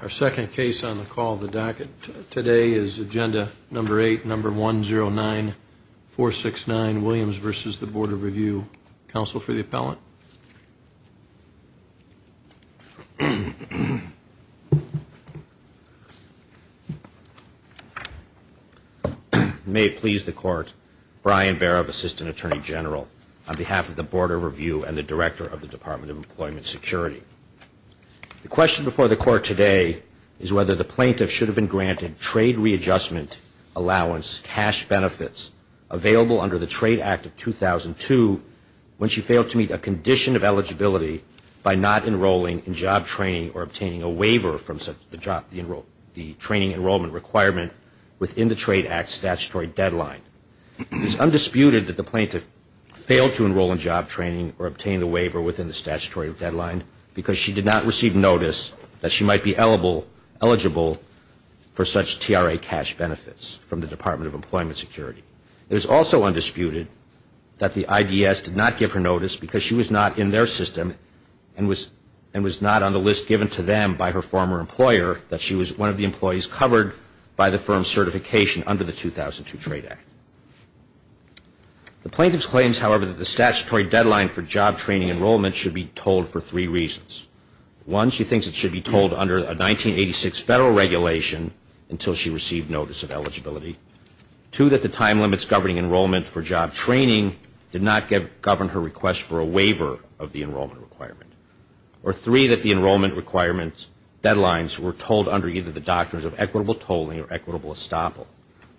Our second case on the call of the docket today is Agenda Number 8, Number 109-469, Williams v. Board of Review. Counsel for the appellant? May it please the Court, Brian Barov, Assistant Attorney General, on behalf of the Board of Review and the Director of the Department of Employment Security. The question before the Court today is whether the plaintiff should have been granted trade readjustment allowance cash benefits available under the Trade Act of 2002 when she failed to meet a condition of eligibility by not enrolling in job training or obtaining a waiver from the training enrollment requirement within the Trade Act statutory deadline. It is undisputed that the plaintiff failed to enroll in job training or obtain a waiver within the statutory deadline because she did not receive notice that she might be eligible for such TRA cash benefits from the Department of Employment Security. It is also undisputed that the IDS did not give her notice because she was not in their system and was not on the list given to them by her former employer that she was one of the employees covered by the firm's certification under the 2002 Trade Act. The plaintiff's claims, however, that the statutory deadline for job training enrollment should be told for three reasons. One, she thinks it should be told under a 1986 federal regulation until she received notice of eligibility. Two, that the time limits governing enrollment for job training did not govern her request for a waiver of the enrollment requirement. Or three, that the enrollment requirements deadlines were told under either the doctrines of equitable tolling or equitable estoppel.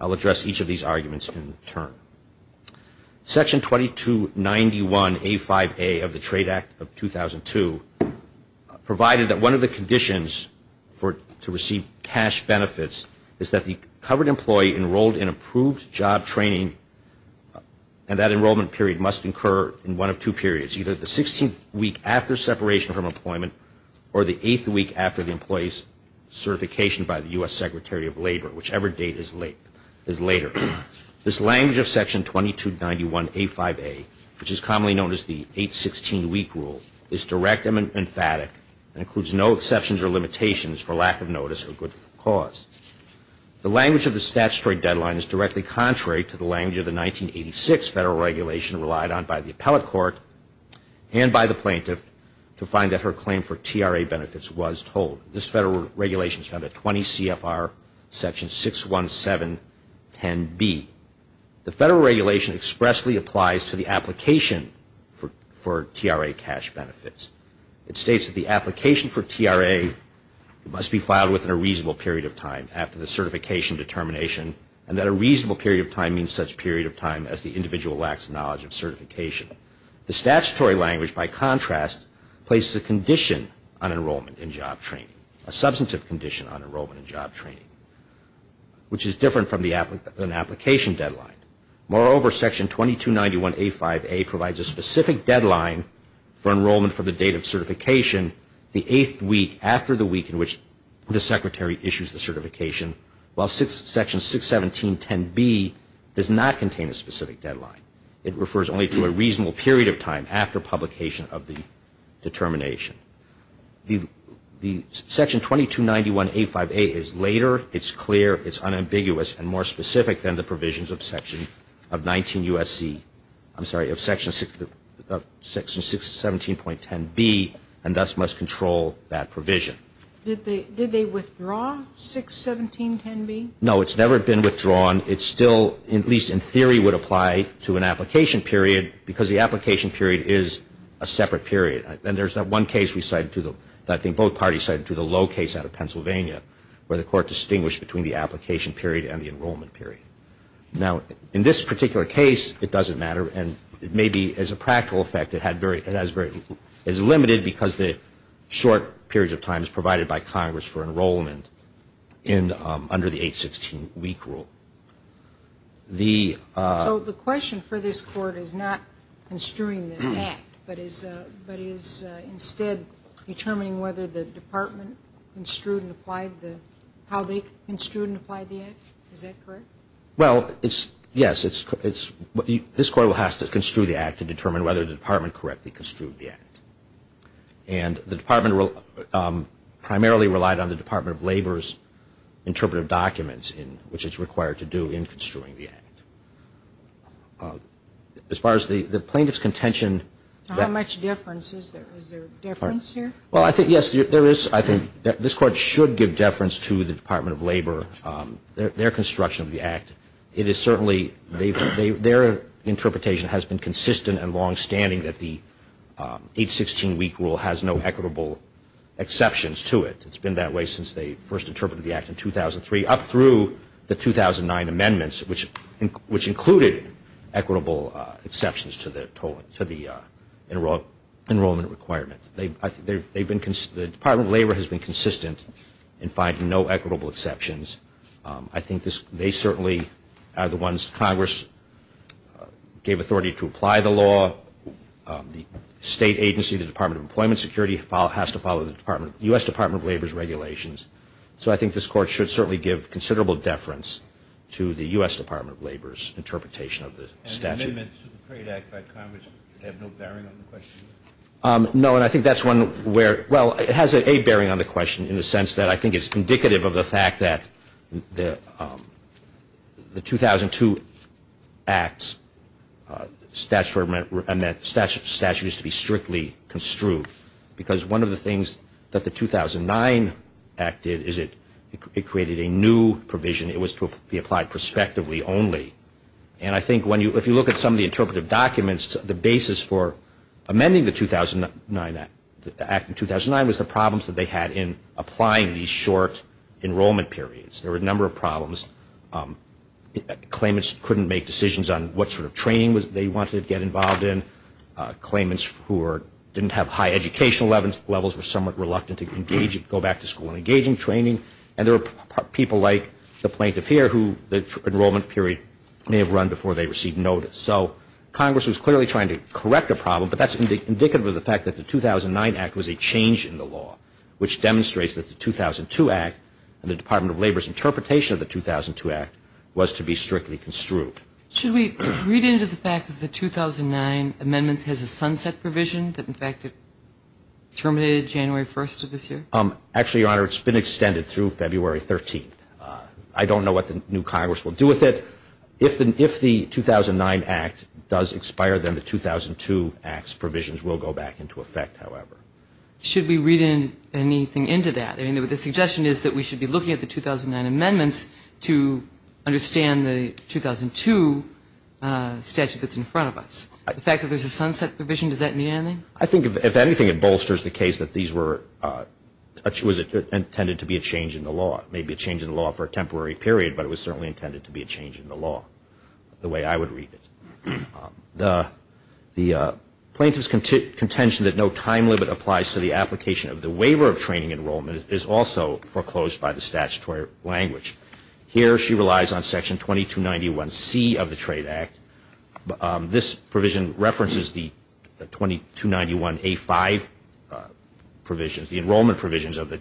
I'll address each of these arguments in turn. Section 2291A5A of the Trade Act of 2002 provided that one of the conditions to receive cash benefits is that the covered employee enrolled in approved job training and that enrollment period must incur in one of two periods. It's either the 16th week after separation from employment or the 8th week after the employee's certification by the U.S. Secretary of Labor, whichever date is later. This language of Section 2291A5A, which is commonly known as the 8-16 week rule, is direct and emphatic and includes no exceptions or limitations for lack of notice or good cause. The language of the statutory deadline is directly contrary to the language of the 1986 federal regulation relied on by the appellate court and by the plaintiff to find that her claim for TRA benefits was told. This federal regulation is found at 20 CFR Section 61710B. The federal regulation expressly applies to the application for TRA cash benefits. It states that the application for TRA must be filed within a reasonable period of time after the certification determination and that a reasonable period of time means such a period of time as the individual lacks knowledge of certification. The statutory language, by contrast, places a condition on enrollment in job training, a substantive condition on enrollment in job training, which is different from an application deadline. Moreover, Section 2291A5A provides a specific deadline for enrollment from the date of certification, the 8th week after the week in which the Secretary issues the certification, while Section 61710B does not contain a specific deadline. It refers only to a reasonable period of time after publication of the determination. The Section 2291A5A is later, it's clear, it's unambiguous, and more specific than the provisions of Section of 19 U.S.C. I'm sorry, of Section 617.10B and thus must control that provision. Did they withdraw 617.10B? No, it's never been withdrawn. It's still, at least in theory, would apply to an application period because the application period is a separate period. And there's that one case we cited to the, I think both parties cited to the low case out of Pennsylvania where the court distinguished between the application period and the enrollment period. Now, in this particular case, it doesn't matter, and maybe as a practical effect, it had very, it has very, it's limited because the short period of time is provided by Congress for enrollment in, under the 816 week rule. So the question for this Court is not construing the Act, but is instead determining whether the Department construed and applied the, how they construed and applied the Act. Is that correct? Well, it's, yes, it's, this Court will have to construe the Act to determine whether the Department correctly construed the Act. And the Department primarily relied on the Department of Labor's interpretive documents in which it's required to do in construing the Act. As far as the plaintiff's contention. How much difference is there? Is there a difference here? Well, I think, yes, there is. I think this Court should give deference to the Department of Labor, their construction of the Act. It is certainly, their interpretation has been consistent and longstanding that the 816 week rule has no equitable exceptions to it. It's been that way since they first interpreted the Act in 2003, up through the 2009 amendments, which included equitable exceptions to the enrollment requirement. The Department of Labor has been consistent in finding no equitable exceptions. I think they certainly are the ones Congress gave authority to apply the law. The state agency, the Department of Employment Security, has to follow the U.S. Department of Labor's regulations. So I think this Court should certainly give considerable deference to the U.S. Department of Labor's interpretation of the statute. And the amendments to the Crate Act by Congress have no bearing on the question? No, and I think that's one where, well, it has a bearing on the question in the sense that I think it's indicative of the fact that the 2002 Act's statute is to be strictly construed. Because one of the things that the 2009 Act did is it created a new provision. It was to be applied prospectively only. And I think if you look at some of the interpretive documents, the basis for amending the 2009 Act was the problems that they had in applying these short enrollment periods. There were a number of problems. Claimants couldn't make decisions on what sort of training they wanted to get involved in. Claimants who didn't have high educational levels were somewhat reluctant to go back to school and engage in training. And there were people like the plaintiff here who the enrollment period may have run before they received notice. So Congress was clearly trying to correct a problem, but that's indicative of the fact that the 2009 Act was a change in the law, which demonstrates that the 2002 Act and the Department of Labor's interpretation of the 2002 Act was to be strictly construed. Should we read into the fact that the 2009 amendments has a sunset provision, that in fact it terminated January 1st of this year? Actually, Your Honor, it's been extended through February 13th. I don't know what the new Congress will do with it. If the 2009 Act does expire, then the 2002 Act's provisions will go back into effect, however. Should we read anything into that? I mean, the suggestion is that we should be looking at the 2009 amendments to understand the 2002 statute that's in front of us. The fact that there's a sunset provision, does that mean anything? I think, if anything, it bolsters the case that these were intended to be a change in the law. Maybe a change in the law for a temporary period, but it was certainly intended to be a change in the law, the way I would read it. The plaintiff's contention that no time limit applies to the application of the waiver of training enrollment is also foreclosed by the statutory language. Here she relies on Section 2291C of the Trade Act. This provision references the 2291A5 provisions, the enrollment provisions of the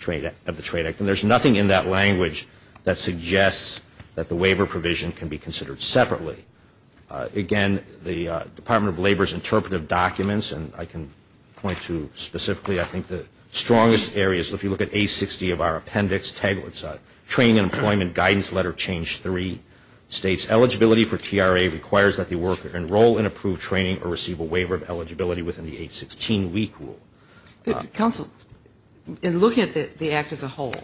Trade Act, and there's nothing in that language that suggests that the waiver provision can be considered separately. Again, the Department of Labor's interpretive documents, and I can point to specifically, I think, the strongest areas. If you look at A60 of our appendix, Training and Employment Guidance Letter Change 3 states, eligibility for TRA requires that the worker enroll in approved training or receive a waiver of eligibility within the 816 week rule. Counsel, in looking at the Act as a whole,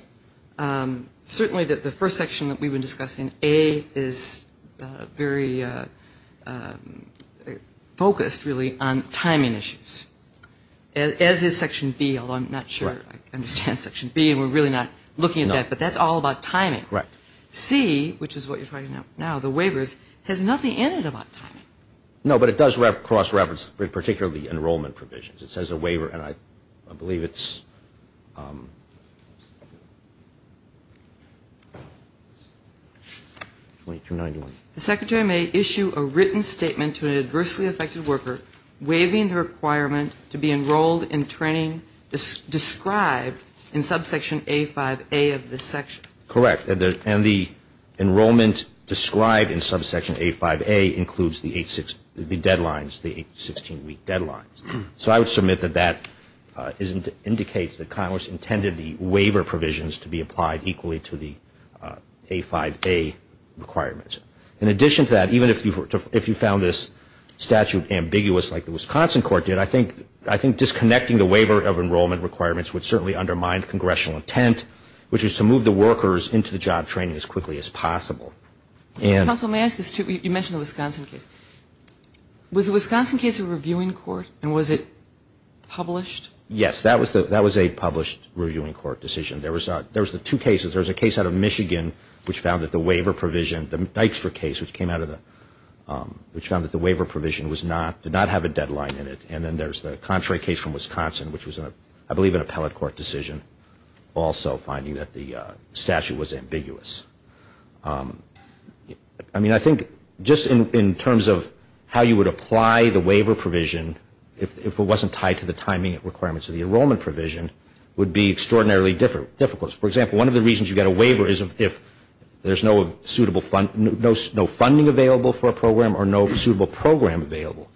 certainly the first section that we've been discussing, Section A is very focused, really, on timing issues, as is Section B, although I'm not sure I understand Section B, and we're really not looking at that, but that's all about timing. C, which is what you're talking about now, the waivers, has nothing in it about timing. No, but it does cross-reference particularly enrollment provisions. It says a waiver, and I believe it's 2291. The Secretary may issue a written statement to an adversely affected worker waiving the requirement to be enrolled in training described in subsection A5A of this section. Correct, and the enrollment described in subsection A5A includes the 816 week deadlines. So I would submit that that indicates that Congress intended the waiver provisions to be applied equally to the A5A requirements. In addition to that, even if you found this statute ambiguous like the Wisconsin court did, I think disconnecting the waiver of enrollment requirements would certainly undermine congressional intent, which is to move the workers into the job training as quickly as possible. Counsel, may I ask this too? You mentioned the Wisconsin case. Was the Wisconsin case a reviewing court, and was it published? Yes, that was a published reviewing court decision. There was the two cases. There was a case out of Michigan which found that the waiver provision, the Dijkstra case, which found that the waiver provision did not have a deadline in it, and then there's the contrary case from Wisconsin, which was, I believe, an appellate court decision, also finding that the statute was ambiguous. I mean, I think just in terms of how you would apply the waiver provision, if it wasn't tied to the timing requirements of the enrollment provision, would be extraordinarily difficult. For example, one of the reasons you get a waiver is if there's no funding available for a program or no suitable program available.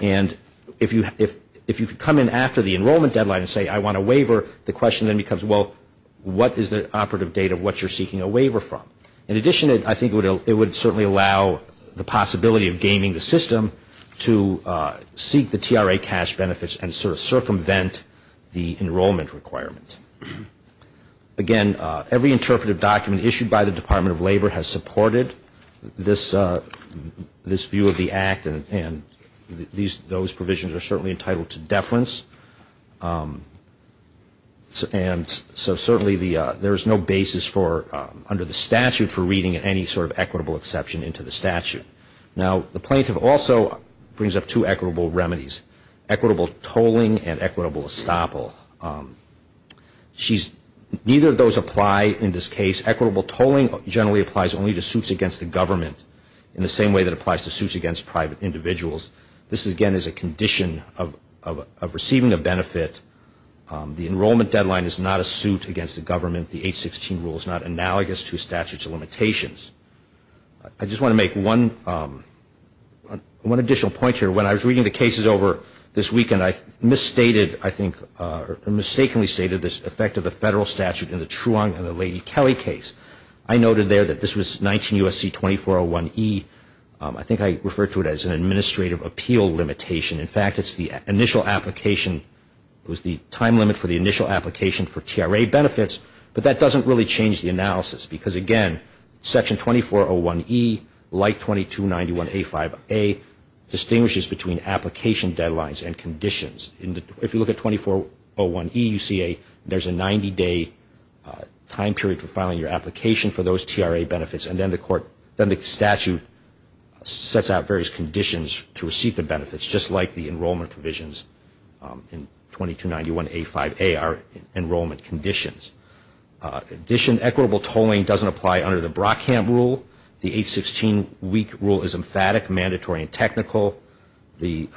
And if you could come in after the enrollment deadline and say, I want a waiver, the question then becomes, well, what is the operative date of what you're seeking a waiver from? In addition, I think it would certainly allow the possibility of gaming the system to seek the TRA cash benefits and sort of circumvent the enrollment requirement. Again, every interpretive document issued by the Department of Labor has supported this view of the act and those provisions are certainly entitled to deference. And so certainly there is no basis under the statute for reading any sort of equitable exception into the statute. Now, the plaintiff also brings up two equitable remedies, equitable tolling and equitable estoppel. Neither of those apply in this case. Equitable tolling generally applies only to suits against the government, in the same way that it applies to suits against private individuals. This, again, is a condition of receiving a benefit. The enrollment deadline is not a suit against the government. The 816 rule is not analogous to a statute of limitations. I just want to make one additional point here. When I was reading the cases over this weekend, I misstated, I think, or mistakenly stated this effect of the federal statute in the Truong and the Lady Kelly case. I noted there that this was 19 U.S.C. 2401E. I think I referred to it as an administrative appeal limitation. In fact, it's the initial application. It was the time limit for the initial application for TRA benefits, but that doesn't really change the analysis because, again, Section 2401E, like 2291A5A, distinguishes between application deadlines and conditions. If you look at 2401E, you see there's a 90-day time period for filing your application for those TRA benefits, and then the statute sets out various conditions to receive the benefits, just like the enrollment provisions in 2291A5A are enrollment conditions. In addition, equitable tolling doesn't apply under the Brockham rule. The 816 week rule is emphatic, mandatory, and technical. The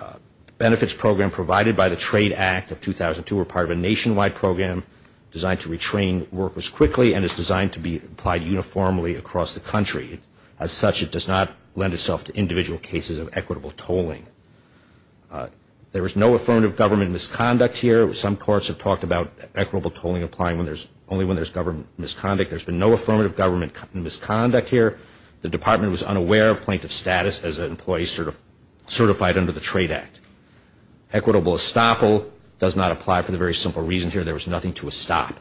benefits program provided by the Trade Act of 2002 were part of a nationwide program designed to retrain workers quickly and is designed to be applied uniformly across the country. As such, it does not lend itself to individual cases of equitable tolling. There was no affirmative government misconduct here. Some courts have talked about equitable tolling applying only when there's government misconduct. There's been no affirmative government misconduct here. The Department was unaware of plaintiff status as an employee certified under the Trade Act. Equitable estoppel does not apply for the very simple reason here there was nothing to estop.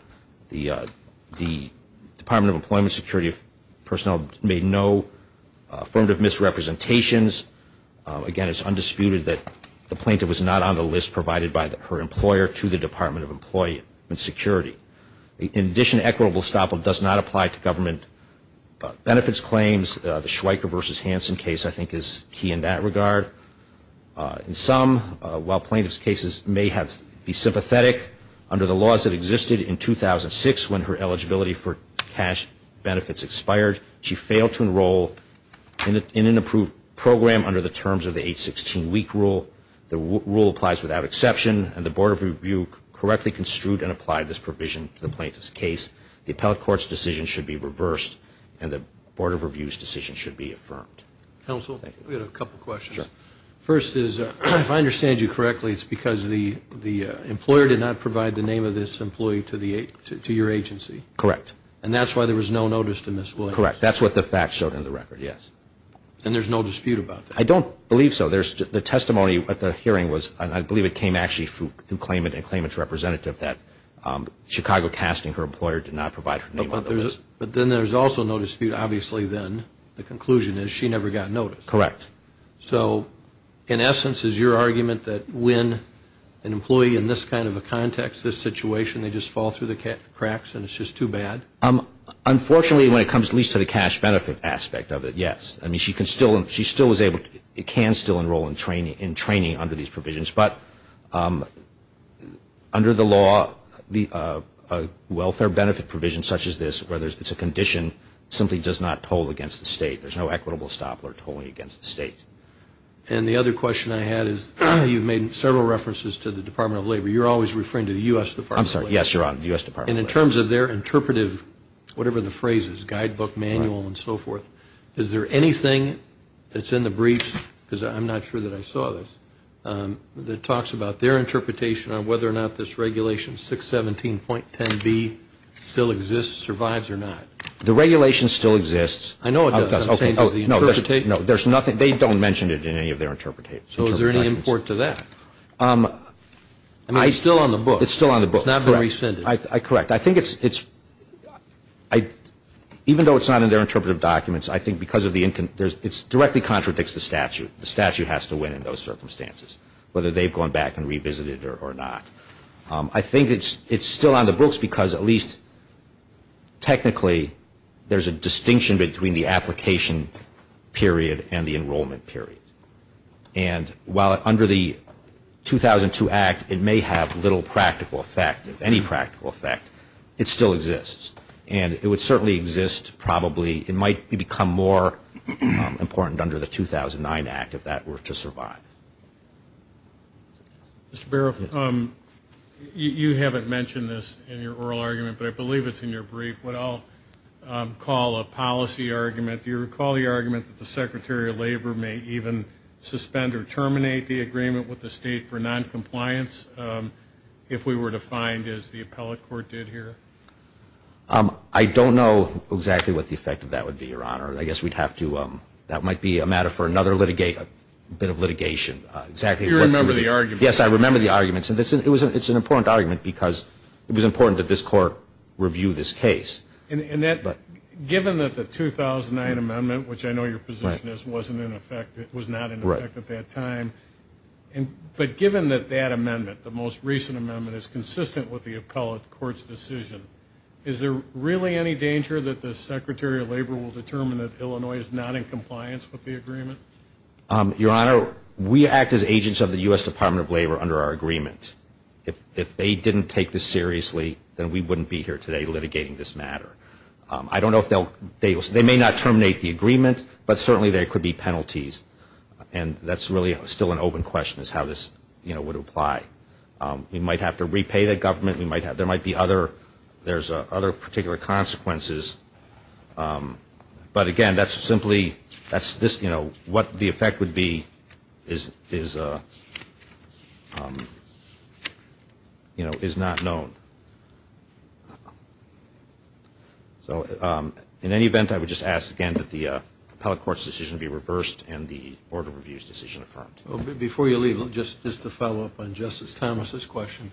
The Department of Employment Security personnel made no affirmative misrepresentations. Again, it's undisputed that the plaintiff was not on the list provided by her employer to the Department of Employment Security. In addition, equitable estoppel does not apply to government benefits claims. The Schweiker v. Hansen case I think is key in that regard. In some, while plaintiff's cases may be sympathetic, under the laws that existed in 2006 when her eligibility for cash benefits expired, she failed to enroll in an approved program under the terms of the 816 week rule. The rule applies without exception, and the Board of Review correctly construed and applied this provision to the plaintiff's case. The appellate court's decision should be reversed, and the Board of Review's decision should be affirmed. Counsel, we have a couple questions. Sure. First is, if I understand you correctly, it's because the employer did not provide the name of this employee to your agency? Correct. And that's why there was no notice to Ms. Williams? Correct. That's what the facts showed in the record, yes. And there's no dispute about that? I don't believe so. The testimony at the hearing was, and I believe it came actually through claimant and claimant's representative, that Chicago Casting, her employer, did not provide her name on the list. But then there's also no dispute, obviously, then, the conclusion is she never got noticed. Correct. So, in essence, is your argument that when an employee in this kind of a context, this situation, they just fall through the cracks and it's just too bad? Unfortunately, when it comes at least to the cash benefit aspect of it, yes. I mean, she can still enroll in training under these provisions. But under the law, a welfare benefit provision such as this, whether it's a condition, simply does not toll against the state. There's no equitable stop or tolling against the state. And the other question I had is, you've made several references to the Department of Labor. You're always referring to the U.S. Department of Labor. I'm sorry, yes, Your Honor, the U.S. Department of Labor. And in terms of their interpretive, whatever the phrase is, guidebook, manual, and so forth, is there anything that's in the briefs, because I'm not sure that I saw this, that talks about their interpretation on whether or not this regulation 617.10b still exists, survives or not? The regulation still exists. I know it does. I'm saying does the interpretation? No, there's nothing. They don't mention it in any of their interpretations. So is there any import to that? I mean, it's still on the book. It's still on the book. It's not been rescinded. Correct. I think it's – even though it's not in their interpretive documents, I think because of the – it directly contradicts the statute. The statute has to win in those circumstances, whether they've gone back and revisited it or not. I think it's still on the books because at least technically there's a distinction between the application period and the enrollment period. And while under the 2002 Act it may have little practical effect, if any practical effect, it still exists. And it would certainly exist probably – it might become more important under the 2009 Act if that were to survive. Mr. Barrow, you haven't mentioned this in your oral argument, but I believe it's in your brief, what I'll call a policy argument. Do you recall the argument that the Secretary of Labor may even suspend or terminate the agreement with the state for noncompliance if we were to find, as the appellate court did here? I don't know exactly what the effect of that would be, Your Honor. I guess we'd have to – that might be a matter for another bit of litigation. You remember the argument. Yes, I remember the argument. It's an important argument because it was important that this court review this case. Given that the 2009 amendment, which I know your position is, wasn't in effect, it was not in effect at that time, but given that that amendment, the most recent amendment, is consistent with the appellate court's decision, is there really any danger that the Secretary of Labor will determine that Illinois is not in compliance with the agreement? Your Honor, we act as agents of the U.S. Department of Labor under our agreement. If they didn't take this seriously, then we wouldn't be here today litigating this matter. I don't know if they'll – they may not terminate the agreement, but certainly there could be penalties. And that's really still an open question is how this would apply. We might have to repay the government. There might be other – there's other particular consequences. But, again, that's simply – that's this – you know, what the effect would be is, you know, is not known. So in any event, I would just ask, again, that the appellate court's decision be reversed and the Board of Review's decision affirmed. Before you leave, just to follow up on Justice Thomas's question,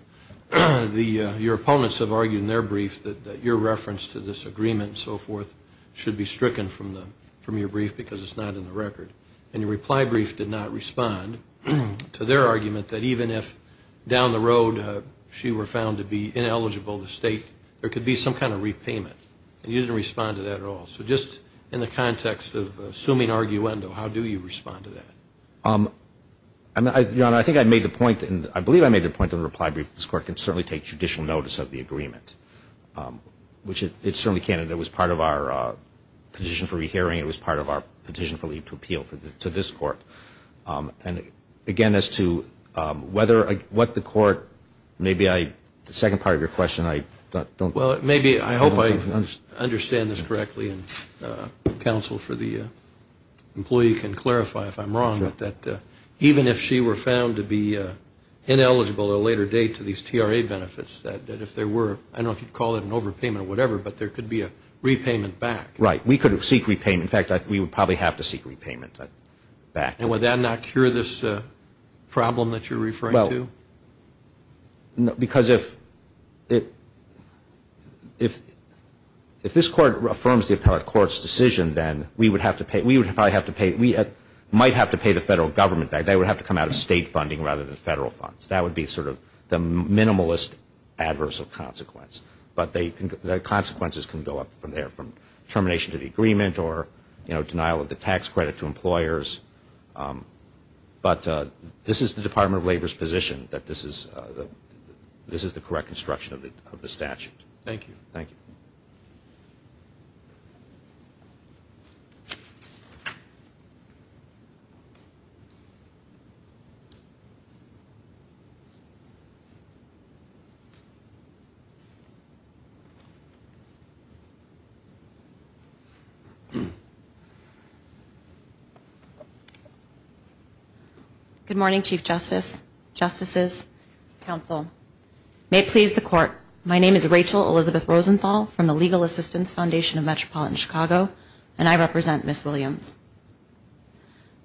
your opponents have argued in their brief that your reference to this agreement and so forth should be stricken from your brief because it's not in the record. And your reply brief did not respond to their argument that even if down the road she were found to be ineligible to state, there could be some kind of repayment. And you didn't respond to that at all. So just in the context of assuming arguendo, how do you respond to that? Your Honor, I think I made the point, and I believe I made the point in the reply brief, this Court can certainly take judicial notice of the agreement, which it certainly can. It was part of our petition for rehearing. It was part of our petition for leave to appeal to this Court. And, again, as to whether – what the Court – maybe I – the second part of your question, I don't – Well, maybe – I hope I understand this correctly, and counsel for the employee can clarify if I'm wrong, but that even if she were found to be ineligible at a later date to these TRA benefits, that if there were – I don't know if you'd call it an overpayment or whatever, but there could be a repayment back. Right. We could seek repayment. In fact, we would probably have to seek repayment back. And would that not cure this problem that you're referring to? Because if this Court affirms the appellate court's decision, then we would have to pay – we would probably have to pay – we might have to pay the federal government back. They would have to come out of state funding rather than federal funds. That would be sort of the minimalist adverse of consequence. But the consequences can go up from there, from termination of the agreement or, you know, denial of the tax credit to employers. But this is the Department of Labor's position, that this is the correct construction of the statute. Thank you. Thank you. Good morning, Chief Justice, Justices, Counsel. May it please the Court, my name is Rachel Elizabeth Rosenthal from the Legal Assistance Foundation of Metropolitan Chicago, and I represent Ms. Williams.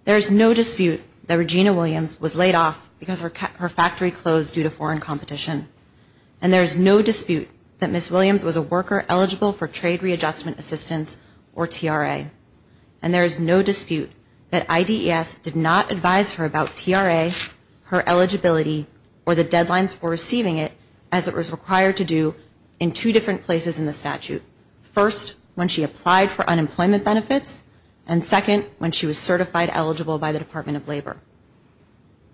There is no dispute that Regina Williams was laid off because her factory closed due to foreign competition. And there is no dispute that Ms. Williams was a worker eligible for Trade Readjustment Assistance, or TRA. And there is no dispute that IDES did not advise her about TRA, her eligibility, or the deadlines for receiving it, as it was required to do in two different places in the statute. First, when she applied for unemployment benefits, and second, when she was certified eligible by the Department of Labor.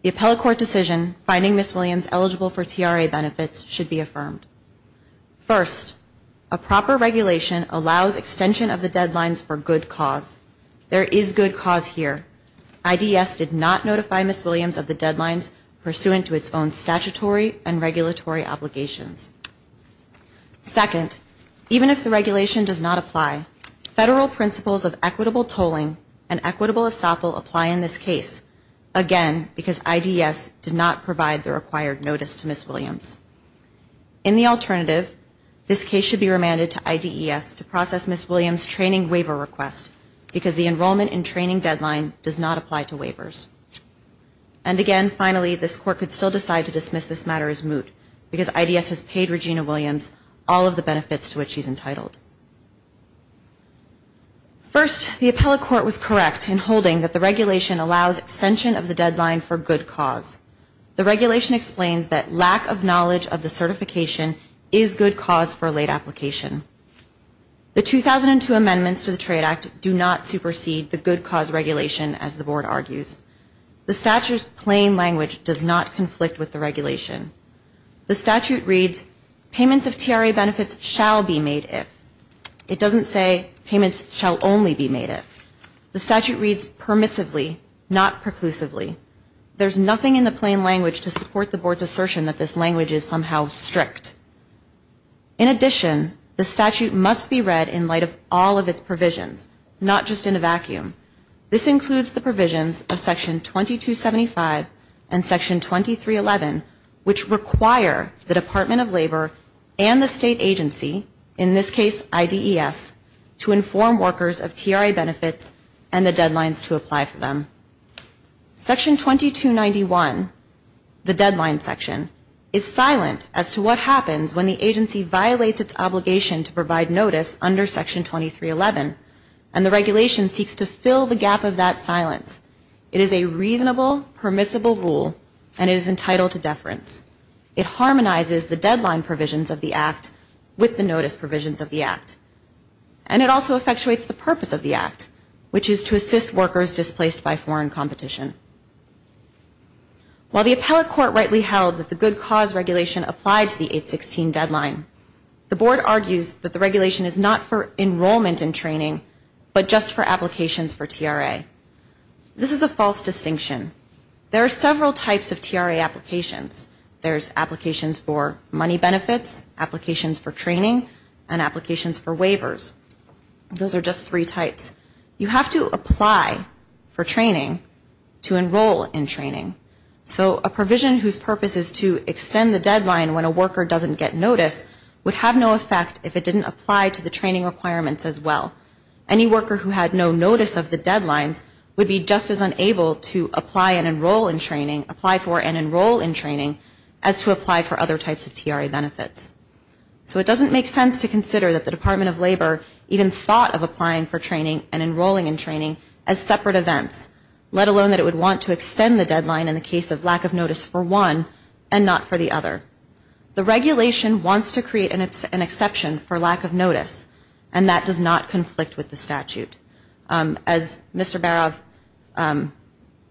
The appellate court decision finding Ms. Williams eligible for TRA benefits should be affirmed. First, a proper regulation allows extension of the deadlines for good cause. There is good cause here. IDES did not notify Ms. Williams of the deadlines pursuant to its own statutory and regulatory obligations. Second, even if the regulation does not apply, federal principles of equitable tolling and equitable estoppel apply in this case, again, because IDES did not provide the required notice to Ms. Williams. In the alternative, this case should be remanded to IDES to process Ms. Williams' training waiver request, because the enrollment and training deadline does not apply to waivers. And again, finally, this court could still decide to dismiss this matter as moot, because IDES has paid Regina Williams all of the benefits to which she is entitled. First, the appellate court was correct in holding that the regulation allows extension of the deadline for good cause. The regulation explains that lack of knowledge of the certification is good cause for a late application. The 2002 amendments to the Trade Act do not supersede the good cause regulation, as the Board argues. The statute's plain language does not conflict with the regulation. The statute reads, payments of TRA benefits shall be made if. It doesn't say payments shall only be made if. The statute reads permissively, not preclusively. There's nothing in the plain language to support the Board's assertion that this language is somehow strict. In addition, the statute must be read in light of all of its provisions, not just in a vacuum. This includes the provisions of Section 2275 and Section 2311, which require the Department of Labor and the state agency, in this case IDES, to inform workers of TRA benefits and the deadlines to apply for them. Section 2291, the deadline section, is silent as to what happens when the agency violates its obligation to provide notice under Section 2311, and the regulation seeks to fill the gap of that silence. It is a reasonable, permissible rule, and it is entitled to deference. It harmonizes the deadline provisions of the Act with the notice provisions of the Act. And it also effectuates the purpose of the Act, which is to assist workers displaced by foreign competition. While the appellate court rightly held that the good cause regulation applied to the 816 deadline, the Board argues that the regulation is not for enrollment and training, but just for applications for TRA. This is a false distinction. There are several types of TRA applications. and applications for waivers. Those are just three types. You have to apply for training to enroll in training. So a provision whose purpose is to extend the deadline when a worker doesn't get notice would have no effect if it didn't apply to the training requirements as well. Any worker who had no notice of the deadlines would be just as unable to apply and enroll in training, apply for and enroll in training, as to apply for other types of TRA benefits. So it doesn't make sense to consider that the Department of Labor even thought of applying for training and enrolling in training as separate events, let alone that it would want to extend the deadline in the case of lack of notice for one and not for the other. The regulation wants to create an exception for lack of notice, and that does not conflict with the statute. As Mr. Barov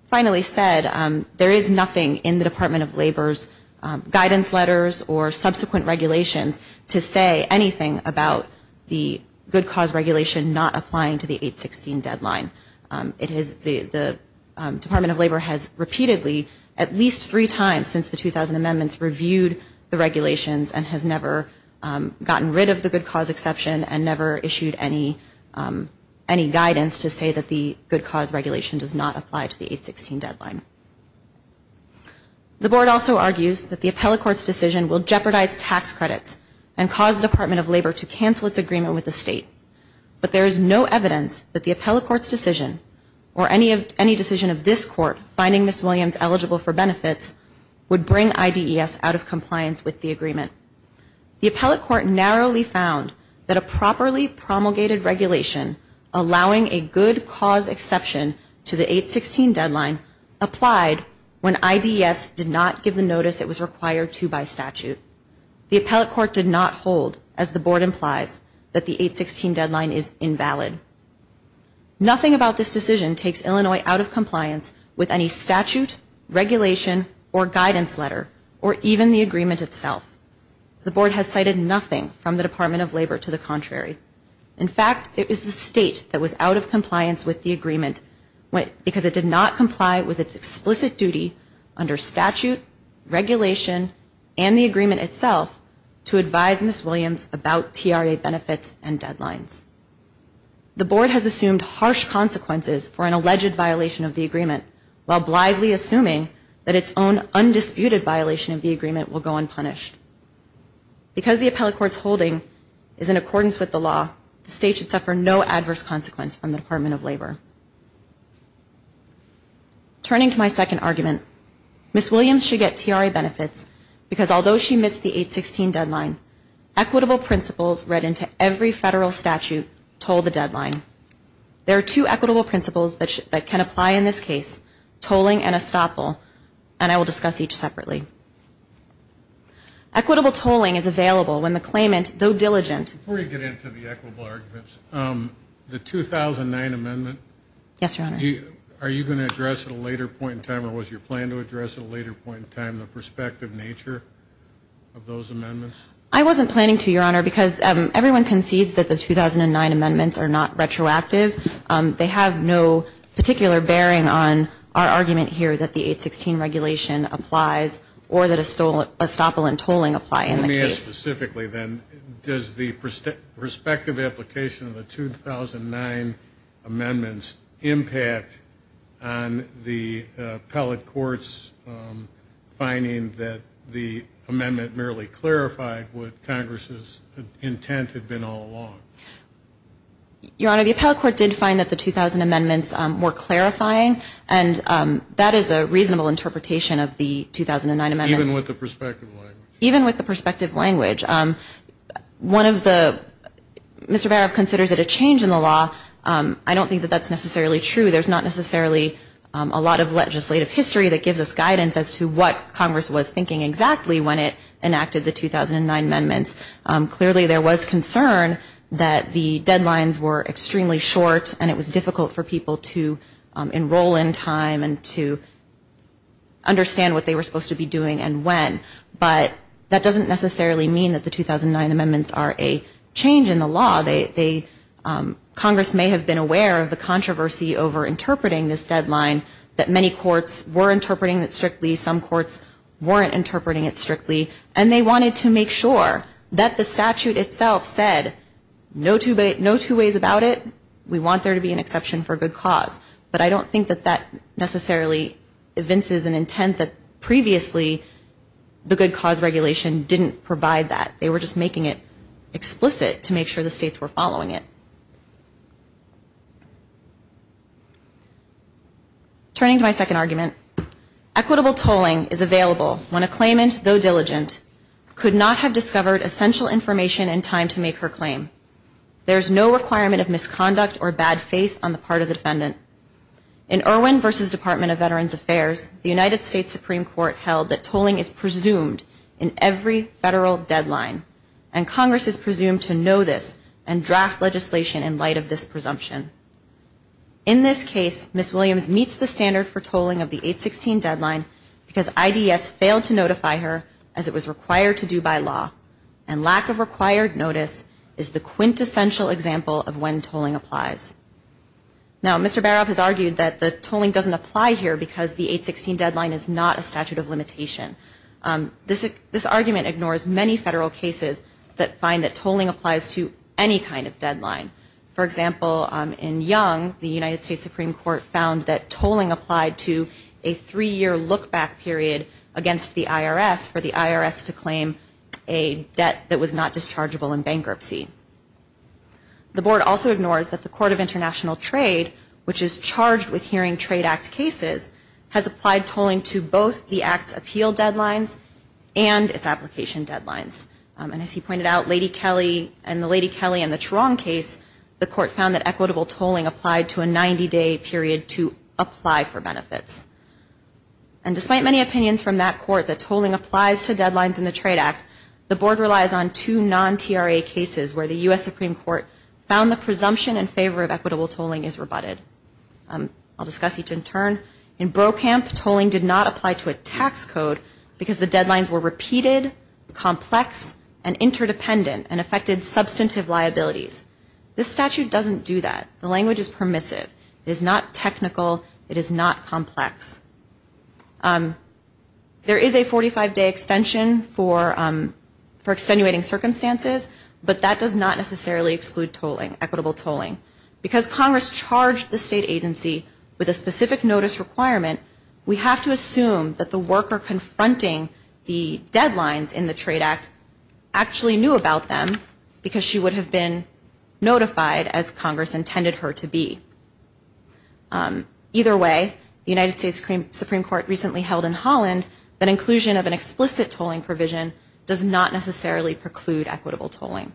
finally said, there is nothing in the Department of Labor's guidance letters or subsequent regulations to say anything about the good cause regulation not applying to the 816 deadline. The Department of Labor has repeatedly, at least three times since the 2000 amendments, reviewed the regulations and has never gotten rid of the good cause exception and never issued any guidance to say that the good cause regulation does not apply to the 816 deadline. The board also argues that the appellate court's decision will jeopardize tax credits and cause the Department of Labor to cancel its agreement with the state. But there is no evidence that the appellate court's decision or any decision of this court finding Ms. Williams eligible for benefits would bring IDES out of compliance with the agreement. The appellate court narrowly found that a properly promulgated regulation allowing a good cause exception to the 816 deadline applied when IDES did not give the notice it was required to by statute. The appellate court did not hold, as the board implies, that the 816 deadline is invalid. Nothing about this decision takes Illinois out of compliance with any statute, regulation, or guidance letter or even the agreement itself. The board has cited nothing from the Department of Labor to the contrary. because it did not comply with its explicit duty under statute, regulation, and the agreement itself to advise Ms. Williams about TRA benefits and deadlines. The board has assumed harsh consequences for an alleged violation of the agreement while blithely assuming that its own undisputed violation of the agreement will go unpunished. Because the appellate court's holding is in accordance with the law, the state should suffer no adverse consequence from the Department of Labor. Turning to my second argument, Ms. Williams should get TRA benefits because although she missed the 816 deadline, equitable principles read into every federal statute told the deadline. There are two equitable principles that can apply in this case, tolling and estoppel, and I will discuss each separately. Equitable tolling is available when the claimant, though diligent, Before you get into the equitable arguments, the 2009 amendment, Yes, Your Honor. Are you going to address at a later point in time or was your plan to address at a later point in time the prospective nature of those amendments? I wasn't planning to, Your Honor, because everyone concedes that the 2009 amendments are not retroactive. They have no particular bearing on our argument here that the 816 regulation applies or that estoppel and tolling apply in the case. More specifically then, does the prospective application of the 2009 amendments impact on the appellate courts finding that the amendment merely clarified what Congress's intent had been all along? Your Honor, the appellate court did find that the 2000 amendments were clarifying and that is a reasonable interpretation of the 2009 amendments. Even with the prospective language? Mr. Barof considers it a change in the law. I don't think that that's necessarily true. There's not necessarily a lot of legislative history that gives us guidance as to what Congress was thinking exactly when it enacted the 2009 amendments. Clearly there was concern that the deadlines were extremely short and it was difficult for people to enroll in time and to understand what they were supposed to be doing and when. But that doesn't necessarily mean that the 2009 amendments are a change in the law. Congress may have been aware of the controversy over interpreting this deadline that many courts were interpreting it strictly. Some courts weren't interpreting it strictly and they wanted to make sure that the statute itself said no two ways about it. We want there to be an exception for good cause. But I don't think that that necessarily evinces an intent that previously the good cause regulation didn't provide that. They were just making it explicit to make sure the states were following it. Turning to my second argument. Equitable tolling is available when a claimant, though diligent, could not have discovered essential information in time to make her claim. There is no requirement of misconduct or bad faith on the part of the defendant. In Irwin v. Department of Veterans Affairs, the United States Supreme Court held that tolling is presumed in every federal deadline and Congress is presumed to know this and draft legislation in light of this presumption. In this case, Ms. Williams meets the standard for tolling of the 816 deadline because IDS failed to notify her as it was required to do by law and lack of required notice is the quintessential example of when tolling applies. Now, Mr. Baroff has argued that the tolling doesn't apply here because the 816 deadline is not a statute of limitation. This argument ignores many federal cases that find that tolling applies to any kind of deadline. For example, in Young, the United States Supreme Court found that tolling applied to a three-year look-back period against the IRS for the IRS to claim a debt that was not dischargeable in bankruptcy. The Board also ignores that the Court of International Trade, which is charged with hearing Trade Act cases, has applied tolling to both the Act's appeal deadlines and its application deadlines. And as he pointed out, Lady Kelly, in the Lady Kelly and the Truong case, the Court found that equitable tolling applied to a 90-day period to apply for benefits. And despite many opinions from that Court that tolling applies to deadlines in the Trade Act, the Board relies on two non-TRA cases where the U.S. Supreme Court found the presumption in favor of equitable tolling is rebutted. I'll discuss each in turn. In Brokamp, tolling did not apply to a tax code because the deadlines were repeated, complex, and interdependent and affected substantive liabilities. This statute doesn't do that. The language is permissive. It is not technical. It is not complex. There is a 45-day extension for extenuating circumstances, but that does not necessarily exclude equitable tolling. Because Congress charged the state agency with a specific notice requirement, we have to assume that the worker confronting the deadlines in the Trade Act actually knew about them because she would have been notified as Congress intended her to be. Either way, the United States Supreme Court recently held in Holland that inclusion of an explicit tolling provision does not necessarily preclude equitable tolling.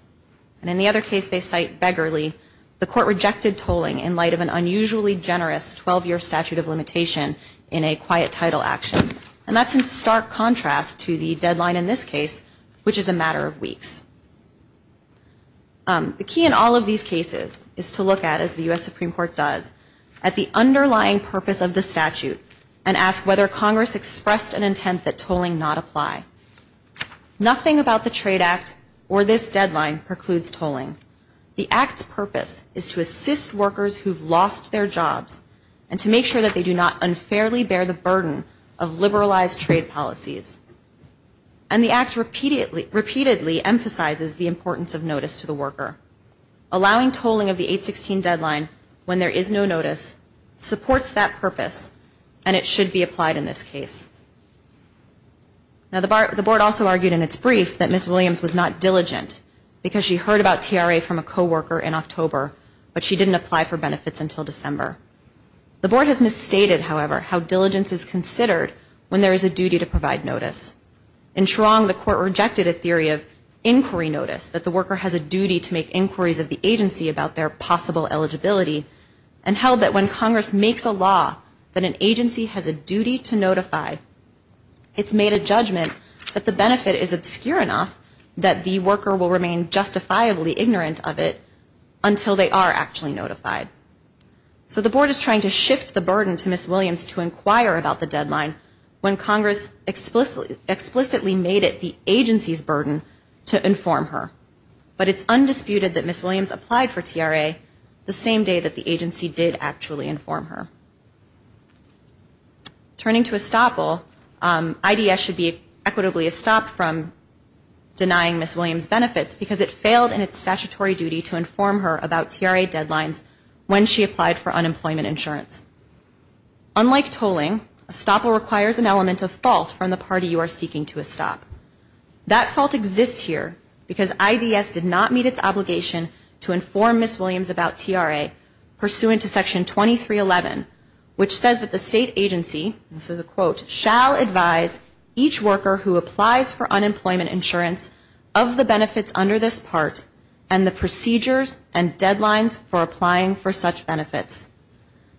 And in the other case they cite beggarly, the Court rejected tolling in light of an unusually generous 12-year statute of limitation in a quiet title action. And that's in stark contrast to the deadline in this case, which is a matter of weeks. The key in all of these cases is to look at, as the U.S. Supreme Court does, at the underlying purpose of the statute and ask whether Congress expressed an intent that tolling not apply. Nothing about the Trade Act or this deadline precludes tolling. The Act's purpose is to assist workers who've lost their jobs and to make sure that they do not unfairly bear the burden of liberalized trade policies. And the Act repeatedly emphasizes the importance of notice to the worker. Allowing tolling of the 816 deadline when there is no notice supports that purpose, and it should be applied in this case. Now, the Board also argued in its brief that Ms. Williams was not diligent because she heard about TRA from a co-worker in October, but she didn't apply for benefits until December. The Board has misstated, however, how diligence is considered when there is a duty to provide notice. In Cherong, the Court rejected a theory of inquiry notice, that the worker has a duty to make inquiries of the agency about their possible eligibility, and held that when Congress makes a law that an agency has a duty to notify, it's made a judgment that the benefit is obscure enough that the worker will remain justifiably ignorant of it until they are actually notified. So the Board is trying to shift the burden to Ms. Williams to inquire about the deadline when Congress explicitly made it the agency's burden to inform her. But it's undisputed that Ms. Williams applied for TRA the same day that the agency did actually inform her. Turning to estoppel, IDS should be equitably estopped from denying Ms. Williams benefits because it failed in its statutory duty to inform her about TRA deadlines when she applied for unemployment insurance. Unlike tolling, estoppel requires an element of fault from the party you are seeking to estop. That fault exists here because IDS did not meet its obligation to inform Ms. Williams about TRA pursuant to Section 2311, which says that the state agency, this is a quote, shall advise each worker who applies for unemployment insurance of the benefits under this part and the procedures and deadlines for applying for such benefits.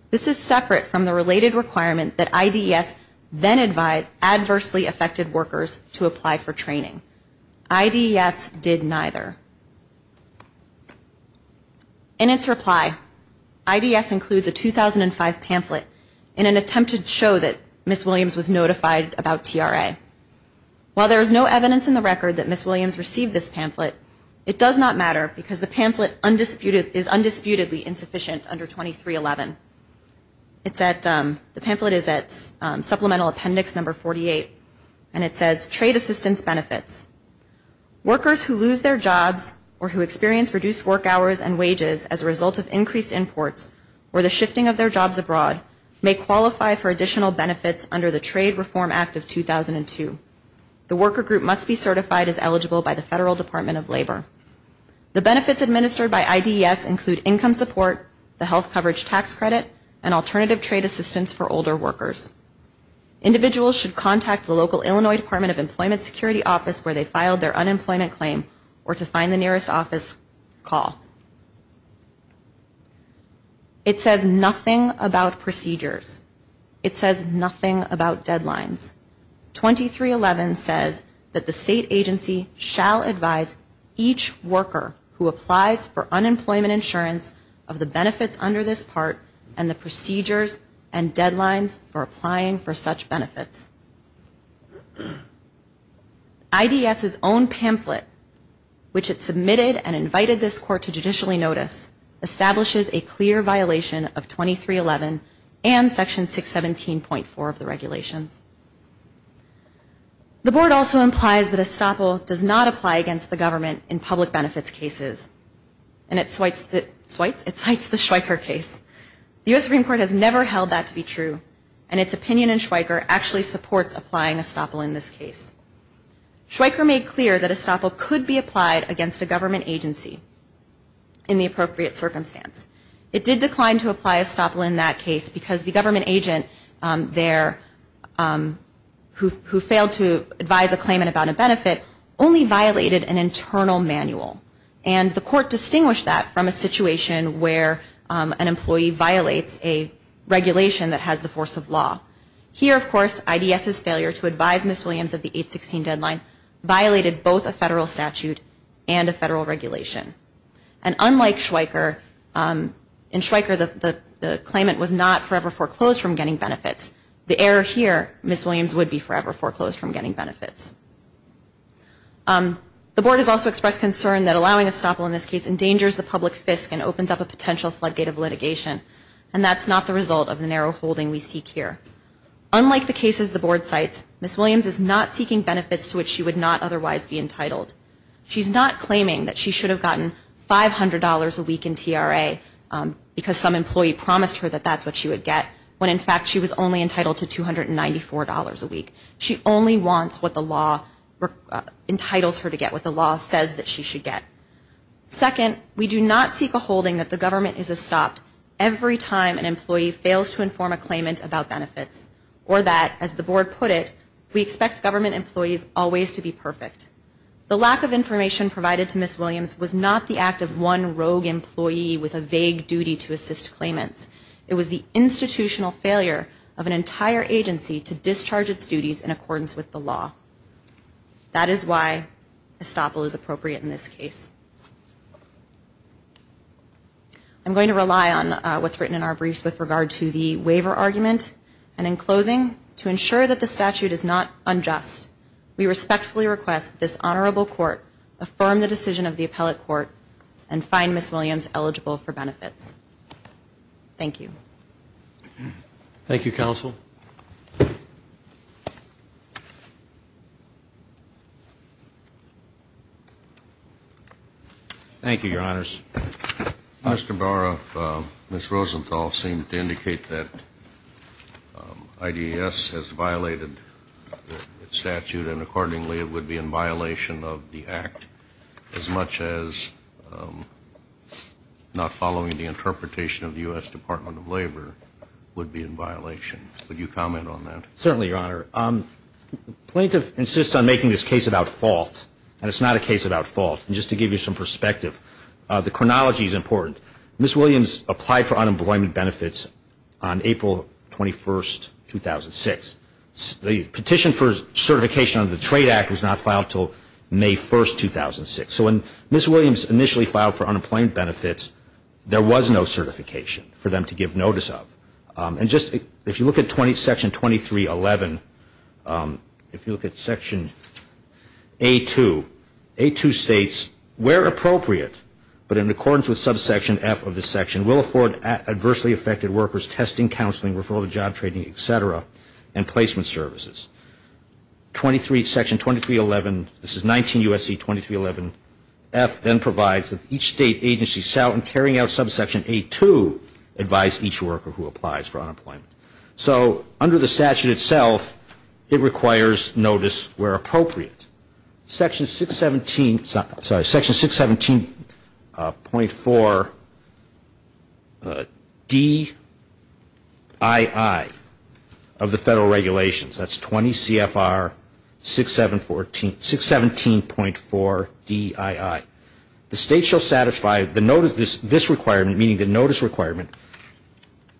This is separate from the related requirement that IDS then advise adversely affected workers to apply for training. IDS did neither. In its reply, IDS includes a 2005 pamphlet in an attempt to show that Ms. Williams was notified about TRA. While there is no evidence in the record that Ms. Williams received this pamphlet, it does not matter because the pamphlet is undisputedly insufficient under 2311. The pamphlet is at supplemental appendix number 48 and it says Trade Assistance Benefits. Workers who lose their jobs or who experience reduced work hours and wages as a result of increased imports or the shifting of their jobs abroad may qualify for additional benefits under the Trade Reform Act of 2002. The worker group must be certified as eligible by the Federal Department of Labor. The benefits administered by IDS include income support, the health coverage tax credit, and alternative trade assistance for older workers. Individuals should contact the local Illinois Department of Employment Security office where they filed their unemployment claim or to find the nearest office call. It says nothing about procedures. It says nothing about deadlines. 2311 says that the state agency shall advise each worker who applies for unemployment insurance of the benefits under this part and the procedures and deadlines for applying for such benefits. IDS's own pamphlet, which it submitted and invited this court to judicially notice, establishes a clear violation of 2311 and section 617.4 of the regulations. The board also implies that ESTOPL does not apply against the government in public benefits cases. It cites the Schweiker case. The U.S. Supreme Court has never held that to be true and its opinion in Schweiker actually supports applying ESTOPL in this case. Schweiker made clear that ESTOPL could be applied against a government agency in the appropriate circumstance. It did decline to apply ESTOPL in that case because the government agent there who failed to advise a claimant about a benefit only violated an internal manual and the court distinguished that from a situation where an employee violates a regulation that has the force of law. Here, of course, IDS's failure to advise Ms. Williams of the 816 deadline violated both a federal statute and a federal regulation. And unlike Schweiker, in Schweiker the claimant was not forever foreclosed from getting benefits. The error here, Ms. Williams would be forever foreclosed from getting benefits. The board has also expressed concern that allowing ESTOPL in this case endangers the public fisc and opens up a potential floodgate of litigation and that's not the result of the narrow holding we seek here. Unlike the cases the board cites, Ms. Williams is not seeking benefits to which she would not otherwise be entitled. She's not claiming that she should have gotten $500 a week in TRA because some employee promised her that that's what she would get when, in fact, she was only entitled to $294 a week. She only wants what the law entitles her to get, what the law says that she should get. Second, we do not seek a holding that the government is estopped every time an employee fails to inform a claimant about benefits or that, as the board put it, we expect government employees always to be perfect. The lack of information provided to Ms. Williams was not the act of one rogue employee with a vague duty to assist claimants. It was the institutional failure of an entire agency to discharge its duties in accordance with the law. That is why ESTOPL is appropriate in this case. I'm going to rely on what's written in our briefs with regard to the waiver argument. And in closing, to ensure that the statute is not unjust, we respectfully request this honorable court affirm the decision of the appellate court and find Ms. Williams eligible for benefits. Thank you. Thank you, counsel. Thank you, Your Honors. Mr. Barra, Ms. Rosenthal seemed to indicate that IDES has violated its statute, and accordingly it would be in violation of the act as much as not following the interpretation of the U.S. Department of Labor would be in violation. Would you comment on that? Certainly, Your Honor. The plaintiff insists on making this case about fault, and it's not a case about fault. And just to give you some perspective, the chronology is important. Ms. Williams applied for unemployment benefits on April 21, 2006. The petition for certification under the Trade Act was not filed until May 1, 2006. So when Ms. Williams initially filed for unemployment benefits, there was no certification for them to give notice of. If you look at Section 2311, if you look at Section A2, A2 states, where appropriate but in accordance with subsection F of this section, will afford adversely affected workers testing, counseling, referral to job training, et cetera, and placement services. Section 2311, this is 19 U.S.C. 2311, F then provides that each state agency carrying out subsection A2 advise each worker who applies for unemployment. So under the statute itself, it requires notice where appropriate. Section 617.4DII of the Federal Regulations, that's 20 CFR 617.4DII. The state shall satisfy this requirement, meaning the notice requirement,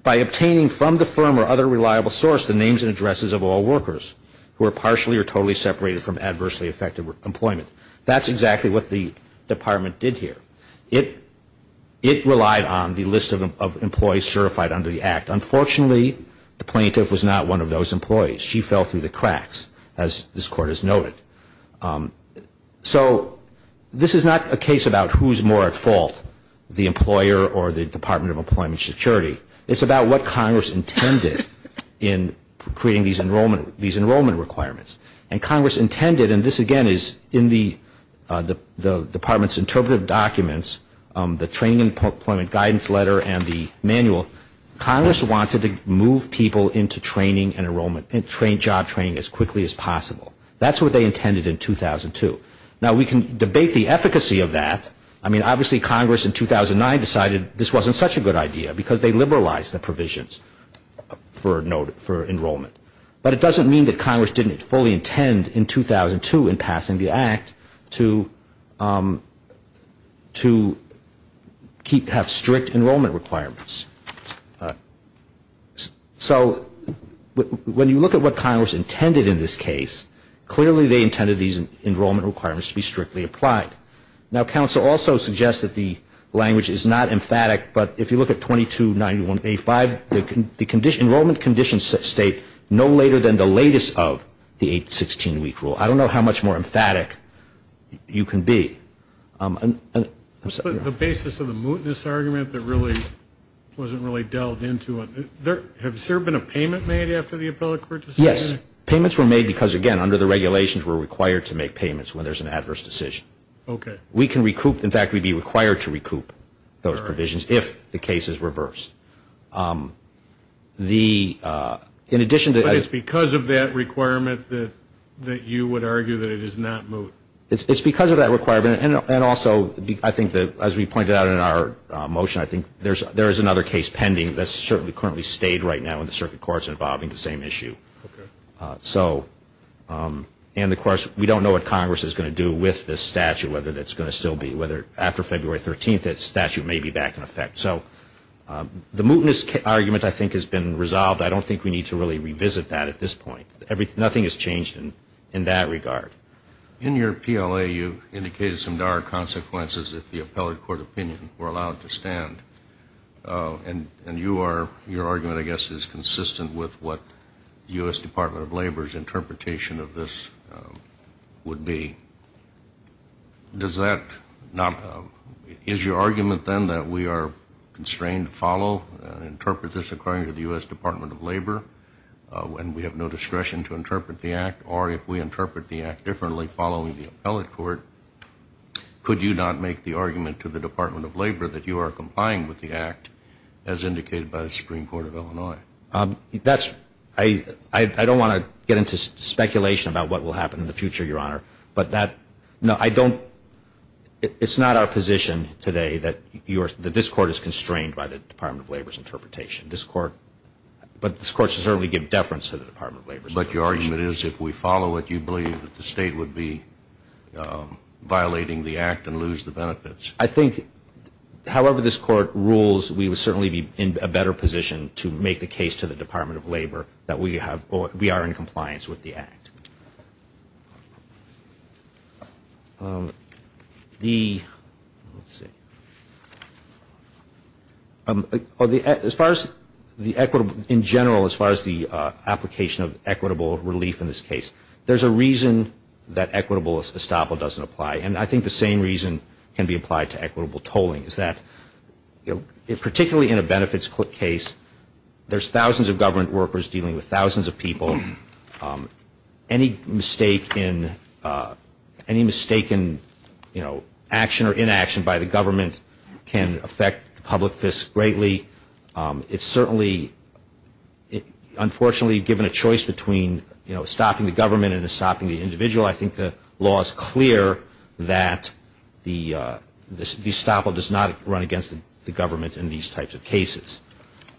by obtaining from the firm or other reliable source the names and addresses of all workers who are partially or totally separated from adversely affected employment. That's exactly what the Department did here. It relied on the list of employees certified under the Act. Unfortunately, the plaintiff was not one of those employees. She fell through the cracks, as this Court has noted. So this is not a case about who's more at fault, the employer or the Department of Employment Security. It's about what Congress intended in creating these enrollment requirements. And Congress intended, and this again is in the Department's interpretive documents, the training and employment guidance letter and the manual, Congress wanted to move people into training and job training as quickly as possible. That's what they intended in 2002. Now, we can debate the efficacy of that. I mean, obviously Congress in 2009 decided this wasn't such a good idea because they liberalized the provisions for enrollment. But it doesn't mean that Congress didn't fully intend in 2002 in passing the Act to have strict enrollment requirements. So when you look at what Congress intended in this case, clearly they intended these enrollment requirements to be strictly applied. Now, counsel also suggests that the language is not emphatic, but if you look at 2291A5, the enrollment conditions state no later than the latest of the 816-week rule. I don't know how much more emphatic you can be. The basis of the mootness argument that really wasn't really delved into, has there been a payment made after the appellate court decision? Yes. Payments were made because, again, under the regulations we're required to make payments when there's an adverse decision. Okay. We can recoup. We're required to recoup those provisions if the case is reversed. But it's because of that requirement that you would argue that it is not moot? It's because of that requirement. And also I think that, as we pointed out in our motion, I think there is another case pending that's certainly currently stayed right now in the circuit courts involving the same issue. And, of course, we don't know what Congress is going to do with this statute, whether it's going to still be, whether after February 13th, that statute may be back in effect. So the mootness argument, I think, has been resolved. I don't think we need to really revisit that at this point. Nothing has changed in that regard. In your PLA, you indicated some dire consequences if the appellate court opinion were allowed to stand. And your argument, I guess, is consistent with what the U.S. Department of Labor's interpretation of this would be. Is your argument, then, that we are constrained to follow and interpret this according to the U.S. Department of Labor when we have no discretion to interpret the Act? Or if we interpret the Act differently following the appellate court, could you not make the argument to the Department of Labor that you are complying with the Act, as indicated by the Supreme Court of Illinois? That's, I don't want to get into speculation about what will happen in the future, Your Honor. But that, no, I don't, it's not our position today that you are, that this Court is constrained by the Department of Labor's interpretation. This Court, but this Court should certainly give deference to the Department of Labor's interpretation. But your argument is if we follow it, you believe that the State would be violating the Act and lose the benefits. I think, however this Court rules, we would certainly be in a better position to make the case to the Department of Labor that we are in compliance with the Act. The, let's see, as far as the equitable, in general, as far as the application of equitable relief in this case, there's a reason that equitable estoppel doesn't apply. And I think the same reason can be applied to equitable tolling, is that particularly in a benefits case, there's thousands of government workers dealing with thousands of people. Any mistake in, any mistake in, you know, action or inaction by the government can affect the public fisc greatly. It's certainly, unfortunately given a choice between, you know, stopping the government and stopping the individual, I think the law is clear that the estoppel does not run against the government in these types of cases.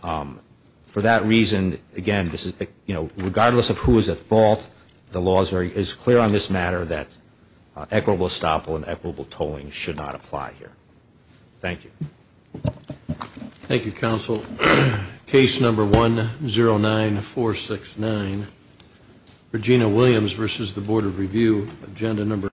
For that reason, again, this is, you know, regardless of who is at fault, the law is clear on this matter that equitable estoppel and equitable tolling should not apply here. Thank you. Thank you, Counsel. Case number 109469. Regina Williams versus the Board of Review.